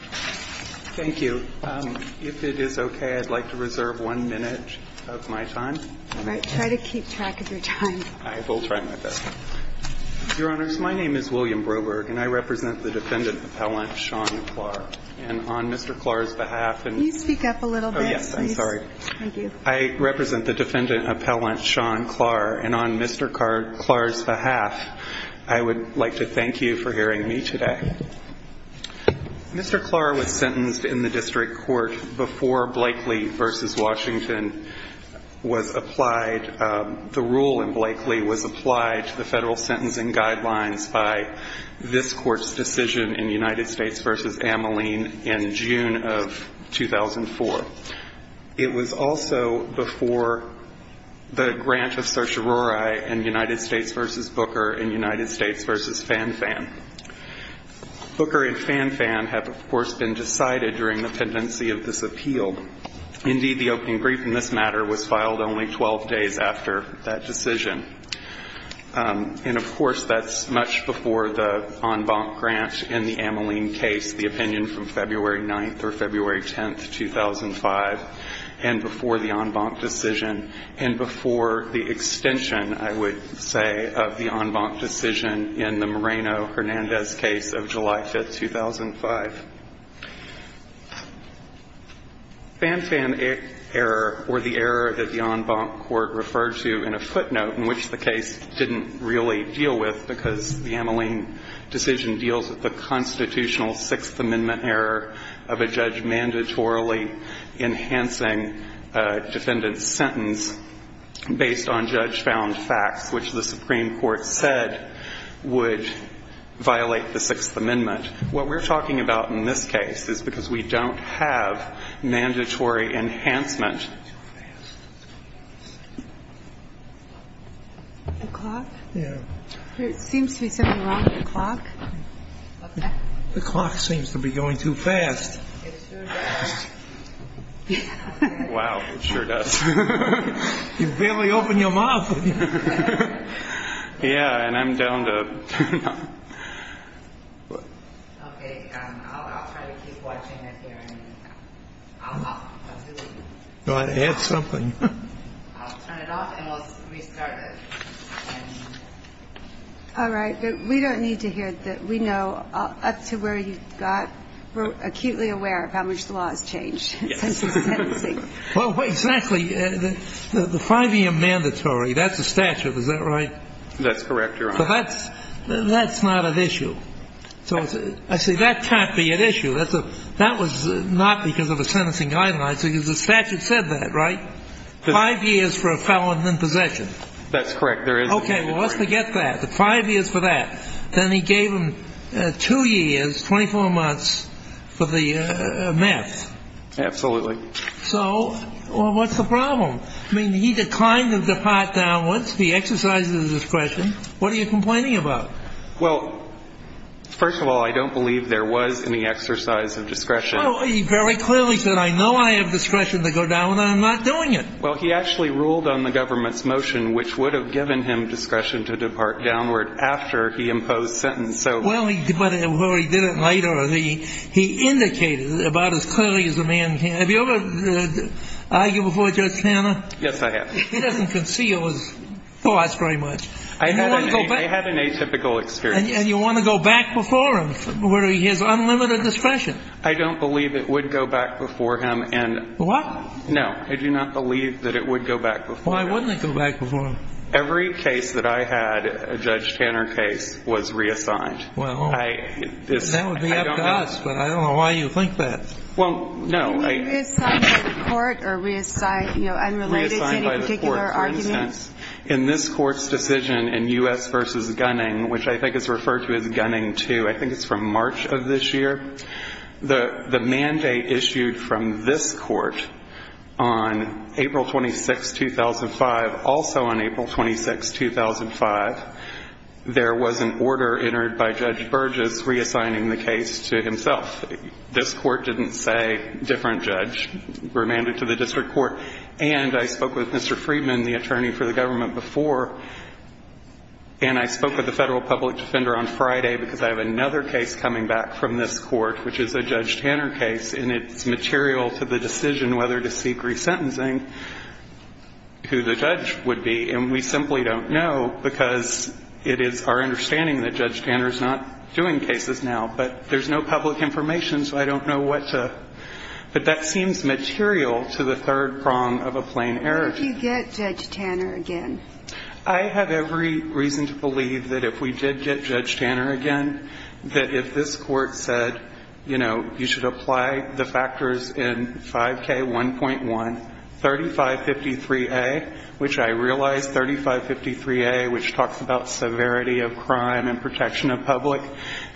Thank you. If it is okay, I'd like to reserve one minute of my time. All right. Try to keep track of your time. I will try my best. Your Honors, my name is William Broberg, and I represent the Defendant Appellant Sean Klar. And on Mr. Klar's behalf and Can you speak up a little bit? Oh, yes. I'm sorry. Thank you. I represent the Defendant Appellant Sean Klar, and on Mr. Klar's behalf, I would like to thank you for hearing me today. Mr. Klar was sentenced in the district court before Blakely v. Washington was applied The rule in Blakely was applied to the federal sentencing guidelines by this court's decision in United States v. Ameline in June of 2004. It was also before the grant of certiorari in United States v. Booker in United States v. Fanfan. Booker and Fanfan have, of course, been decided during the pendency of this appeal. Indeed, the opening brief in this matter was filed only 12 days after that decision. And, of course, that's much before the en banc grant in the Ameline case, the opinion from February 9th or February 10th, 2005, and before the en banc decision and before the extension, I would say, of the en banc decision in the Moreno-Hernandez case of July 5th, 2005. Fanfan error, or the error that the en banc court referred to in a footnote, in which the case didn't really deal with because the Ameline decision deals with the constitutional Sixth Amendment error of a judge mandatorily enhancing a defendant's sentence based on judge-found facts, which the Supreme Court said would violate the Sixth Amendment. What we're talking about in this case is because we don't have mandatory enhancement. The clock? Yeah. There seems to be something wrong with the clock. What's that? The clock seems to be going too fast. It sure does. Wow, it sure does. You barely opened your mouth. Yeah, and I'm down to turn it off. Okay, I'll try to keep watching it here and I'll do it again. Go ahead, add something. I'll turn it off and we'll restart it. All right, but we don't need to hear it. We know up to where you got, we're acutely aware of how much the law has changed since the sentencing. Well, exactly. The five-year mandatory, that's a statute, is that right? That's correct, Your Honor. But that's not at issue. I say that can't be at issue. That was not because of a sentencing guideline. It's because the statute said that, right? Five years for a felon in possession. That's correct. Okay, well, let's forget that. Five years for that. Then he gave him two years, 24 months, for the meth. Absolutely. So what's the problem? I mean, he declined to depart downwards. He exercised his discretion. What are you complaining about? Well, first of all, I don't believe there was any exercise of discretion. Well, he very clearly said, I know I have discretion to go downward. I'm not doing it. Well, he actually ruled on the government's motion, which would have given him discretion to depart downward after he imposed sentence. Well, he did it later. He indicated about as clearly as a man can. Have you ever argued before Judge Tanner? Yes, I have. He doesn't conceal his thoughts very much. I had an atypical experience. And you want to go back before him for his unlimited discretion? I don't believe it would go back before him. What? No, I do not believe that it would go back before him. Why wouldn't it go back before him? Every case that I had, a Judge Tanner case, was reassigned. Well, that would be up to us, but I don't know why you think that. Well, no. Can we reassign by the court or, you know, unrelated to any particular argument? Reassigned by the court. For instance, in this Court's decision in U.S. v. Gunning, which I think is referred to as Gunning 2, I think it's from March of this year, the mandate issued from this Court on April 26, 2005, also on April 26, 2005, there was an order entered by Judge Burgess reassigning the case to himself. This Court didn't say different judge. Remanded to the district court. And I spoke with Mr. Friedman, the attorney for the government, before. And I spoke with the federal public defender on Friday because I have another case coming back from this Court, which is a Judge Tanner case, and it's material to the decision whether to seek resentencing, who the judge would be. And we simply don't know because it is our understanding that Judge Tanner is not doing cases now. But there's no public information, so I don't know what to – but that seems material to the third prong of a plain error. What if you get Judge Tanner again? I have every reason to believe that if we did get Judge Tanner again, that if this Court said, you know, you should apply the factors in 5K1.1, 3553A, which I realize 3553A, which talks about severity of crime and protection of public,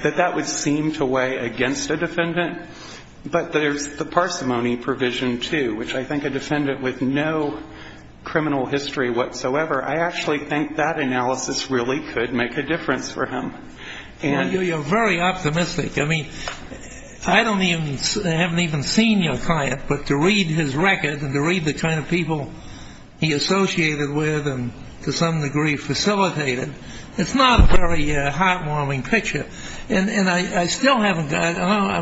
that that would seem to weigh against a defendant. But there's the parsimony provision, too, which I think a defendant with no criminal history whatsoever, I actually think that analysis really could make a difference for him. And you're very optimistic. I mean, I don't even – I haven't even seen your client, but to read his record and to read the kind of people he associated with and to some degree facilitated, it's not a very heartwarming picture. And I still haven't – now I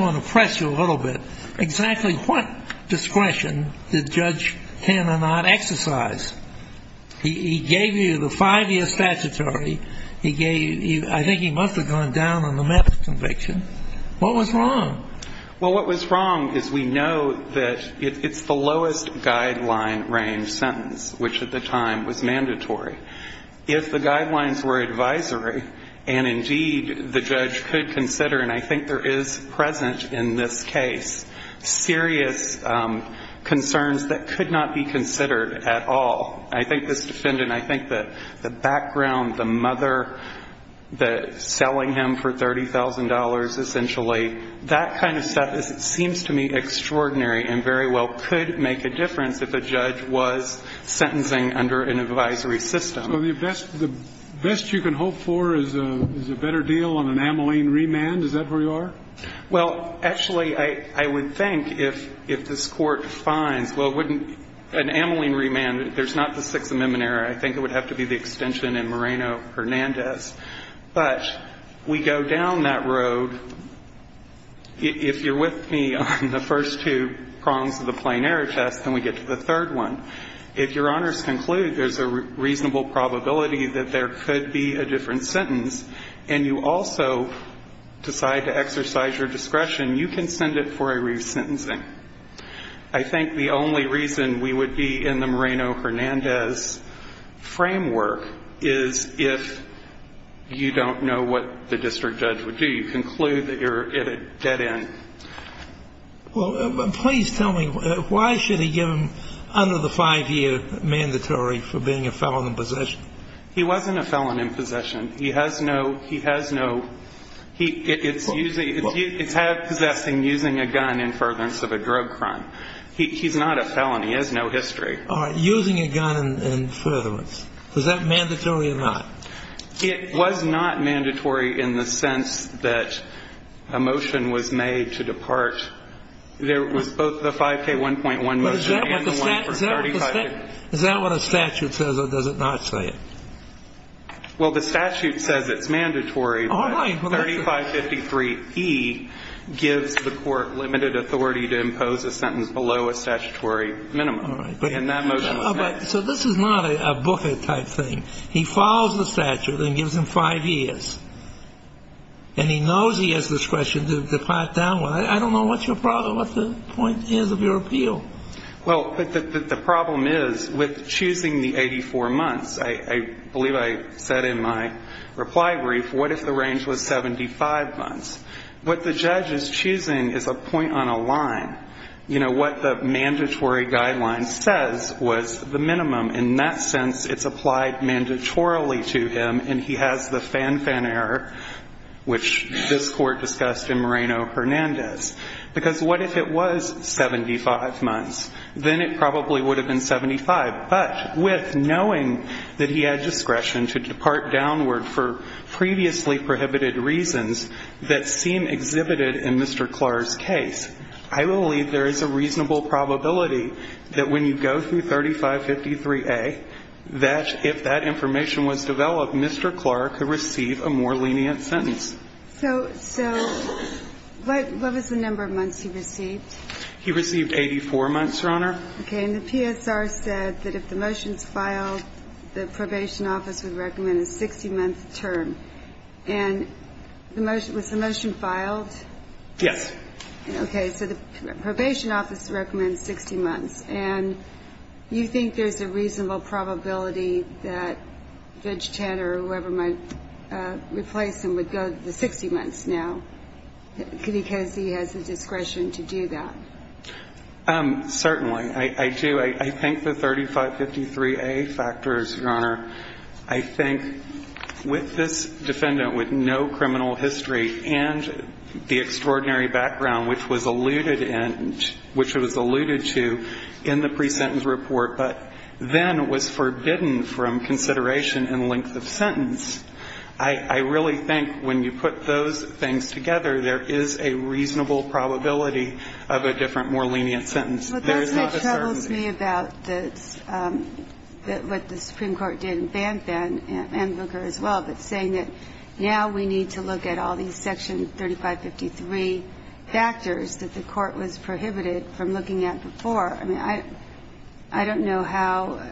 want to press you a little bit. Exactly what discretion did Judge Tanner not exercise? He gave you the five-year statutory. He gave – I think he must have gone down on the method of conviction. What was wrong? Well, what was wrong is we know that it's the lowest guideline range sentence, which at the time was mandatory. If the guidelines were advisory, and indeed the judge could consider, and I think there is present in this case serious concerns that could not be considered at all. I think this defendant, I think the background, the mother, the selling him for $30,000 essentially, that kind of stuff seems to me extraordinary and very well could make a difference if a judge was sentencing under an advisory system. So the best you can hope for is a better deal on an amylene remand? Is that where you are? Well, actually, I would think if this Court finds, well, an amylene remand, there's not the Sixth Amendment error. I think it would have to be the extension in Moreno-Hernandez. But we go down that road. If you're with me on the first two prongs of the plain error test, then we get to the third one. If Your Honors conclude there's a reasonable probability that there could be a different sentence, and you also decide to exercise your discretion, you can send it for a resentencing. I think the only reason we would be in the Moreno-Hernandez framework is if you don't know what the district judge would do. You conclude that you're at a dead end. Well, please tell me, why should he give him under the five-year mandatory for being a felon in possession? He wasn't a felon in possession. He has no, he has no, it's possessing using a gun in furtherance of a drug crime. He's not a felon. He has no history. All right, using a gun in furtherance. Was that mandatory or not? It was not mandatory in the sense that a motion was made to depart. There was both the 5K1.1 motion and the one for 35 years. Is that what a statute says, or does it not say it? Well, the statute says it's mandatory. All right. But 3553E gives the court limited authority to impose a sentence below a statutory minimum. All right. And that motion was not. So this is not a Buffett-type thing. He follows the statute and gives him five years. And he knows he has discretion to depart downward. I don't know what your problem, what the point is of your appeal. Well, the problem is with choosing the 84 months, I believe I said in my reply brief, what if the range was 75 months? What the judge is choosing is a point on a line. You know, what the mandatory guideline says was the minimum. In that sense, it's applied mandatorily to him, and he has the fan-fan error, which this court discussed in Moreno-Hernandez. Because what if it was 75 months? Then it probably would have been 75. But with knowing that he had discretion to depart downward for previously prohibited reasons that seem exhibited in Mr. Clark's case, I believe there is a reasonable probability that when you go through 3553A, that if that information was developed, Mr. Clark could receive a more lenient sentence. So what was the number of months he received? He received 84 months, Your Honor. Okay. And the PSR said that if the motion is filed, the probation office would recommend a 60-month term. And was the motion filed? Yes. Okay. So the probation office recommends 60 months. And you think there's a reasonable probability that Vig Tantor or whoever might go to the 60 months now because he has the discretion to do that? Certainly. I do. I think the 3553A factors, Your Honor. I think with this defendant with no criminal history and the extraordinary background, which was alluded to in the pre-sentence report, but then was forbidden from consideration in length of sentence. I really think when you put those things together, there is a reasonable probability of a different, more lenient sentence. There is not a certainty. But that's what troubles me about what the Supreme Court did in Banff and Booker as well, but saying that now we need to look at all these Section 3553 factors that the court was prohibited from looking at before. I mean, I don't know how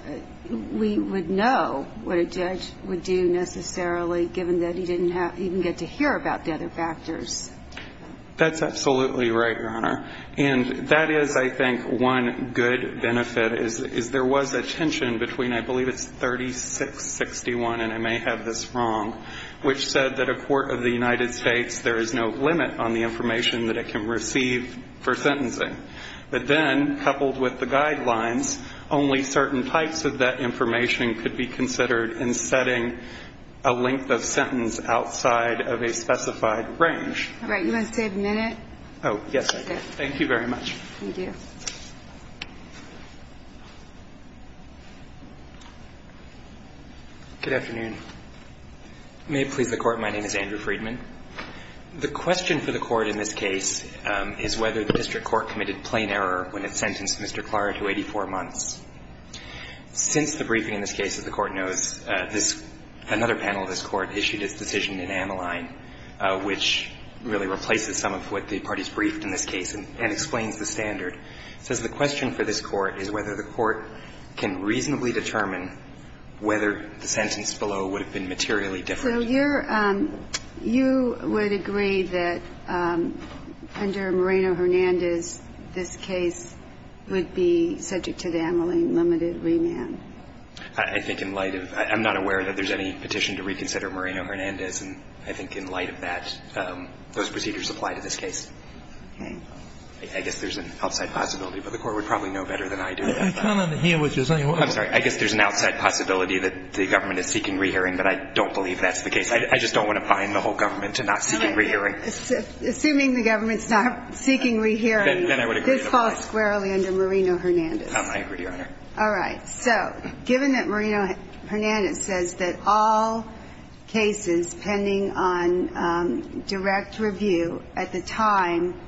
we would know what a judge would do necessarily given that he didn't even get to hear about the other factors. That's absolutely right, Your Honor. And that is, I think, one good benefit is there was a tension between, I believe it's 3661, and I may have this wrong, which said that a court of the United States, there is no limit on the information that it can receive for sentencing. But then, coupled with the guidelines, only certain types of that information could be considered in setting a length of sentence outside of a specified range. All right. You want to stay a minute? Oh, yes, I do. Thank you very much. Thank you. Good afternoon. May it please the Court. My name is Andrew Friedman. The question for the Court in this case is whether the district court committed plain error when it sentenced Mr. Klarer to 84 months. Since the briefing in this case, as the Court knows, another panel of this Court issued its decision in Ameline, which really replaces some of what the parties briefed in this case and explains the standard. It says the question for this Court is whether the Court can reasonably determine whether the sentence below would have been materially different. So you're – you would agree that under Moreno-Hernandez, this case would be subject to the Ameline limited remand? I think in light of – I'm not aware that there's any petition to reconsider Moreno-Hernandez. And I think in light of that, those procedures apply to this case. I guess there's an outside possibility, but the Court would probably know better than I do. I can't understand what you're saying. I'm sorry. I guess there's an outside possibility that the government is seeking re-hearing, but I don't believe that's the case. I just don't want to bind the whole government to not seeking re-hearing. Assuming the government's not seeking re-hearing, this falls squarely under Moreno-Hernandez. I agree, Your Honor. All right. So given that Moreno-Hernandez says that all cases pending on direct review at the time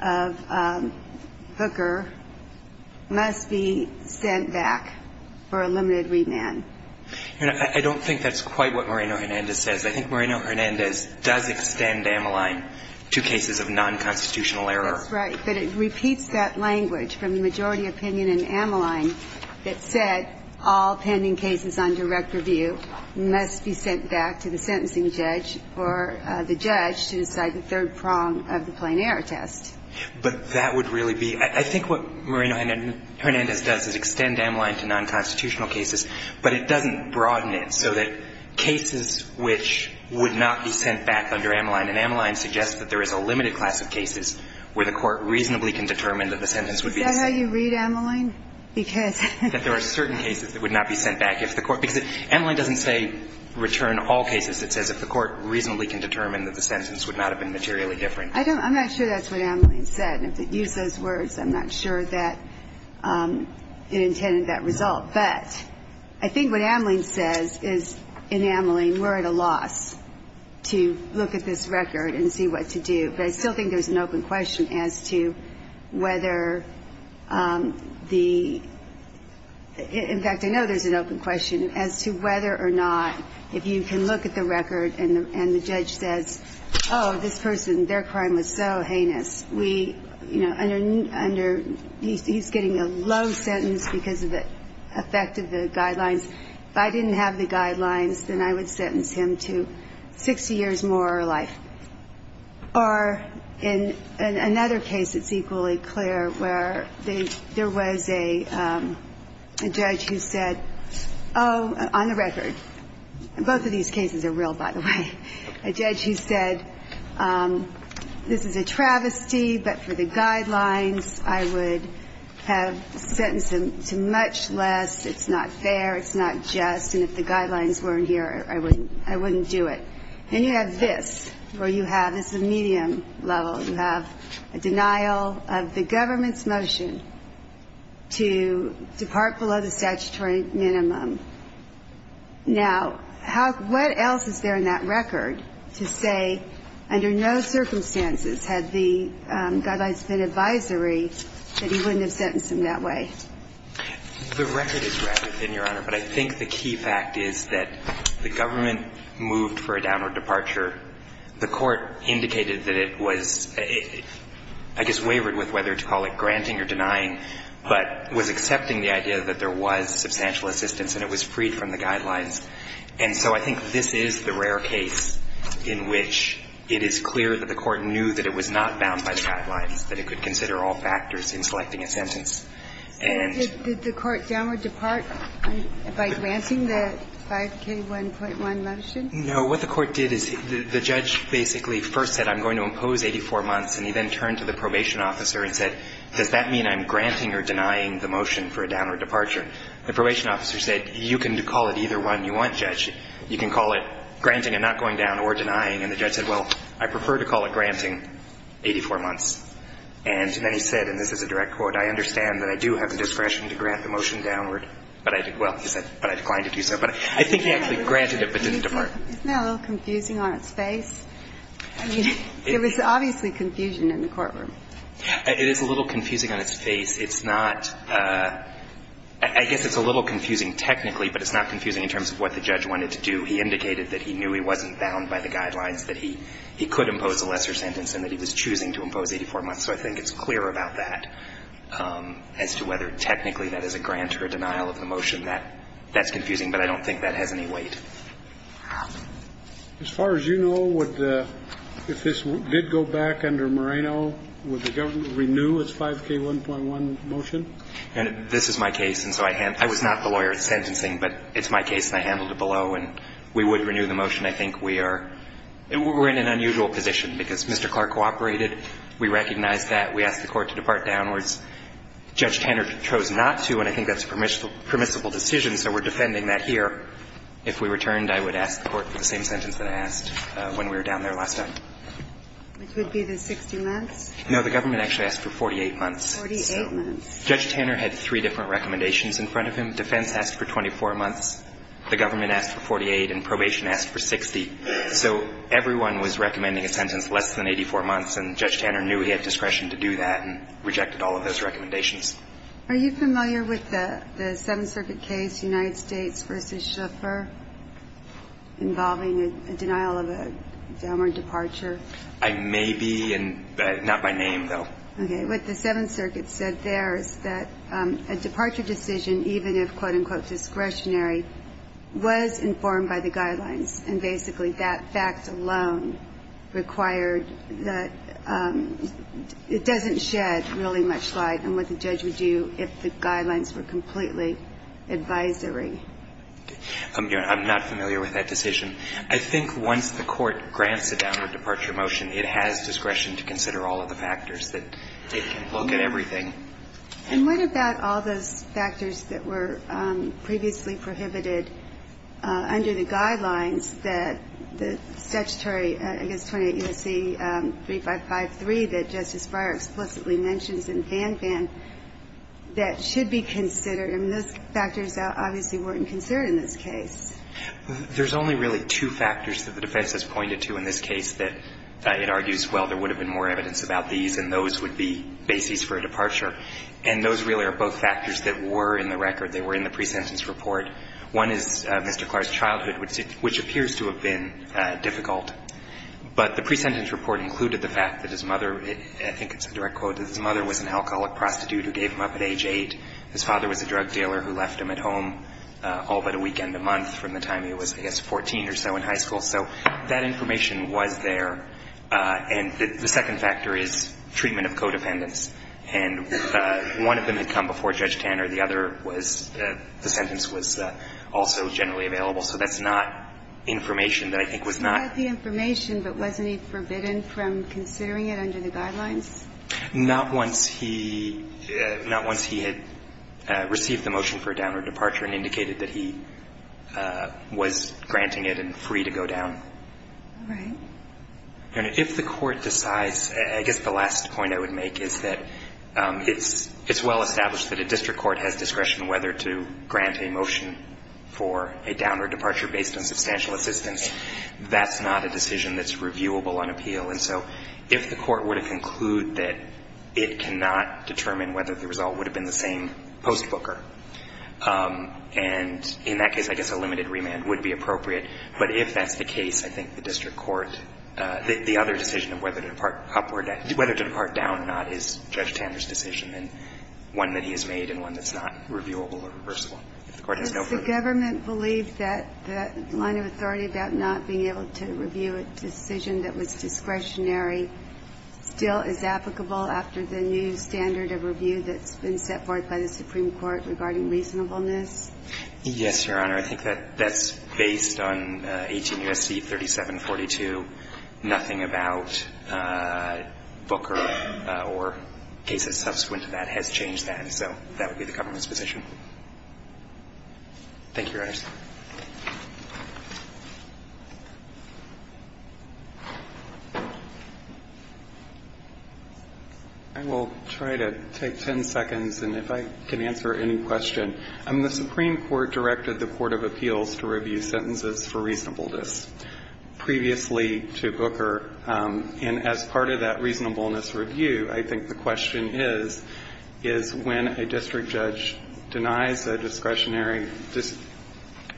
of Hooker must be sent back for a limited remand. Your Honor, I don't think that's quite what Moreno-Hernandez says. I think Moreno-Hernandez does extend Ameline to cases of nonconstitutional error. That's right. But it repeats that language from the majority opinion in Ameline that said all pending cases on direct review must be sent back to the sentencing judge or the judge to decide the third prong of the plain error test. But that would really be – I think what Moreno-Hernandez does is extend Ameline to nonconstitutional cases, but it doesn't broaden it so that cases which would not be sent back under Ameline. And Ameline suggests that there is a limited class of cases where the court reasonably can determine that the sentence would be the same. Is that how you read Ameline? Because – That there are certain cases that would not be sent back if the court – because Ameline doesn't say return all cases. It says if the court reasonably can determine that the sentence would not have been materially different. I don't – I'm not sure that's what Ameline said. And if it used those words, I'm not sure that it intended that result. But I think what Ameline says is in Ameline we're at a loss to look at this record and see what to do. But I still think there's an open question as to whether the – in fact, I know there's an open question as to whether or not if you can look at the record and the judge says, oh, this person, their crime was so heinous. We – you know, under – he's getting a low sentence because of the effect of the guidelines. If I didn't have the guidelines, then I would sentence him to 60 years more life. Or in another case that's equally clear where there was a judge who said, oh, on the record – both of these cases are real, by the way. A judge who said this is a travesty, but for the guidelines I would have sentenced him to much less. It's not fair. It's not just. And if the guidelines weren't here, I wouldn't do it. Then you have this, where you have – this is a medium level. You have a denial of the government's motion to depart below the statutory minimum. Now, how – what else is there in that record to say under no circumstances had the guidelines been advisory that he wouldn't have sentenced him that way? The record is rapid, Your Honor, but I think the key fact is that the government moved for a downward departure. The Court indicated that it was a – I guess wavered with whether to call it granting or denying, but was accepting the idea that there was substantial assistance and it was freed from the guidelines. And so I think this is the rare case in which it is clear that the Court knew that it was not bound by the guidelines, that it could consider all factors in selecting a sentence, and – Did the Court downward depart by granting the 5K1.1 motion? No. What the Court did is the judge basically first said, I'm going to impose 84 months, and he then turned to the probation officer and said, does that mean I'm granting or denying the motion for a downward departure? The probation officer said, you can call it either one you want, Judge. You can call it granting and not going down or denying. And the judge said, well, I prefer to call it granting 84 months. And then he said, and this is a direct quote, I understand that I do have the discretion to grant the motion downward, but I – well, he said, but I decline to do so. But I think he actually granted it but didn't depart. Isn't that a little confusing on its face? I mean, there was obviously confusion in the courtroom. It is a little confusing on its face. It's not – I guess it's a little confusing technically, but it's not confusing in terms of what the judge wanted to do. He indicated that he knew he wasn't bound by the guidelines, that he could impose a lesser sentence, and that he was choosing to impose 84 months. So I think it's clear about that as to whether technically that is a grant or a denial of the motion. That's confusing, but I don't think that has any weight. As far as you know, would the – if this did go back under Moreno, would the government renew its 5K1.1 motion? And this is my case, and so I – I was not the lawyer in sentencing, but it's my case and I handled it below. And we would renew the motion. I think we are – we're in an unusual position, because Mr. Clark cooperated. We recognized that. We asked the Court to depart downwards. Judge Tanner chose not to, and I think that's a permissible decision, so we're defending that here. If we returned, I would ask the Court for the same sentence that I asked when we were down there last time. Which would be the 60 months? No, the government actually asked for 48 months. Forty-eight months. So Judge Tanner had three different recommendations in front of him. Defense asked for 24 months. The government asked for 48, and probation asked for 60. So everyone was recommending a sentence less than 84 months, and Judge Tanner knew he had discretion to do that and rejected all of those recommendations. Are you familiar with the Seventh Circuit case, United States v. Schiffer, involving a denial of a downward departure? I may be, but not by name, though. Okay. What the Seventh Circuit said there is that a departure decision, even if, quote, unquote, discretionary, was informed by the guidelines, and basically that fact alone required that – it doesn't shed really much light on what the judge would do if the guidelines were completely advisory. I'm not familiar with that decision. I think once the Court grants a downward departure motion, it has discretion to consider all of the factors, that it can look at everything. And what about all those factors that were previously prohibited under the guidelines that the statutory, I guess, 28 U.S.C. 3553 that Justice Breyer explicitly mentions in Fan Fan, that should be considered? I mean, those factors obviously weren't considered in this case. There's only really two factors that the defense has pointed to in this case that it argues, well, there would have been more evidence about these, and those would be bases for a departure. And those really are both factors that were in the record. They were in the pre-sentence report. One is Mr. Clark's childhood, which appears to have been difficult. But the pre-sentence report included the fact that his mother – I think it's a direct quote – that his mother was an alcoholic prostitute who gave him up at age 8. His father was a drug dealer who left him at home all but a weekend a month from the time he was, I guess, 14 or so in high school. So that information was there. And the second factor is treatment of codependents. And one of them had come before Judge Tanner. The other was – the sentence was also generally available. So that's not information that I think was not – Was that the information, but wasn't he forbidden from considering it under the guidelines? Not once he – not once he had received the motion for a downward departure and indicated that he was granting it and free to go down. Right. And if the Court decides – I guess the last point I would make is that it's well established that a district court has discretion whether to grant a motion for a downward departure based on substantial assistance. That's not a decision that's reviewable on appeal. And so if the Court were to conclude that it cannot determine whether the result would have been the same post-Booker, and in that case, I guess a limited remand would be appropriate. But if that's the case, I think the district court – the other decision of whether to depart upward – whether to depart down, not is Judge Tanner's decision and one that he has made and one that's not reviewable or reversible. If the Court has no further – Does the government believe that line of authority about not being able to review a decision that was discretionary still is applicable after the new standard of review that's been set forth by the Supreme Court regarding reasonableness? Yes, Your Honor. I think that that's based on 18 U.S.C. 3742. Nothing about Booker or cases subsequent to that has changed that. And so that would be the government's position. Thank you, Your Honors. I will try to take 10 seconds, and if I can answer any question. The Supreme Court directed the Court of Appeals to review sentences for reasonableness previously to Booker. And as part of that reasonableness review, I think the question is, is when a district judge denies a discretionary –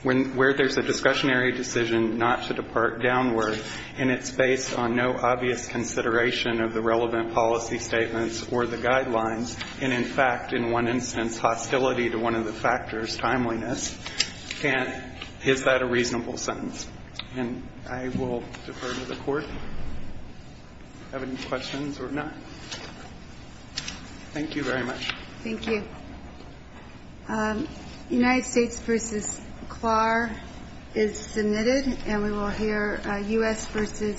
where there's a discretionary decision not to depart downward and it's based on no obvious consideration of the relevant policy statements or the guidelines, and in fact, in one instance, hostility to one of the factors, timeliness, is that a reasonable sentence? And I will defer to the Court. Have any questions or not? Thank you very much. Thank you. United States v. Clark is submitted, and we will hear U.S. v.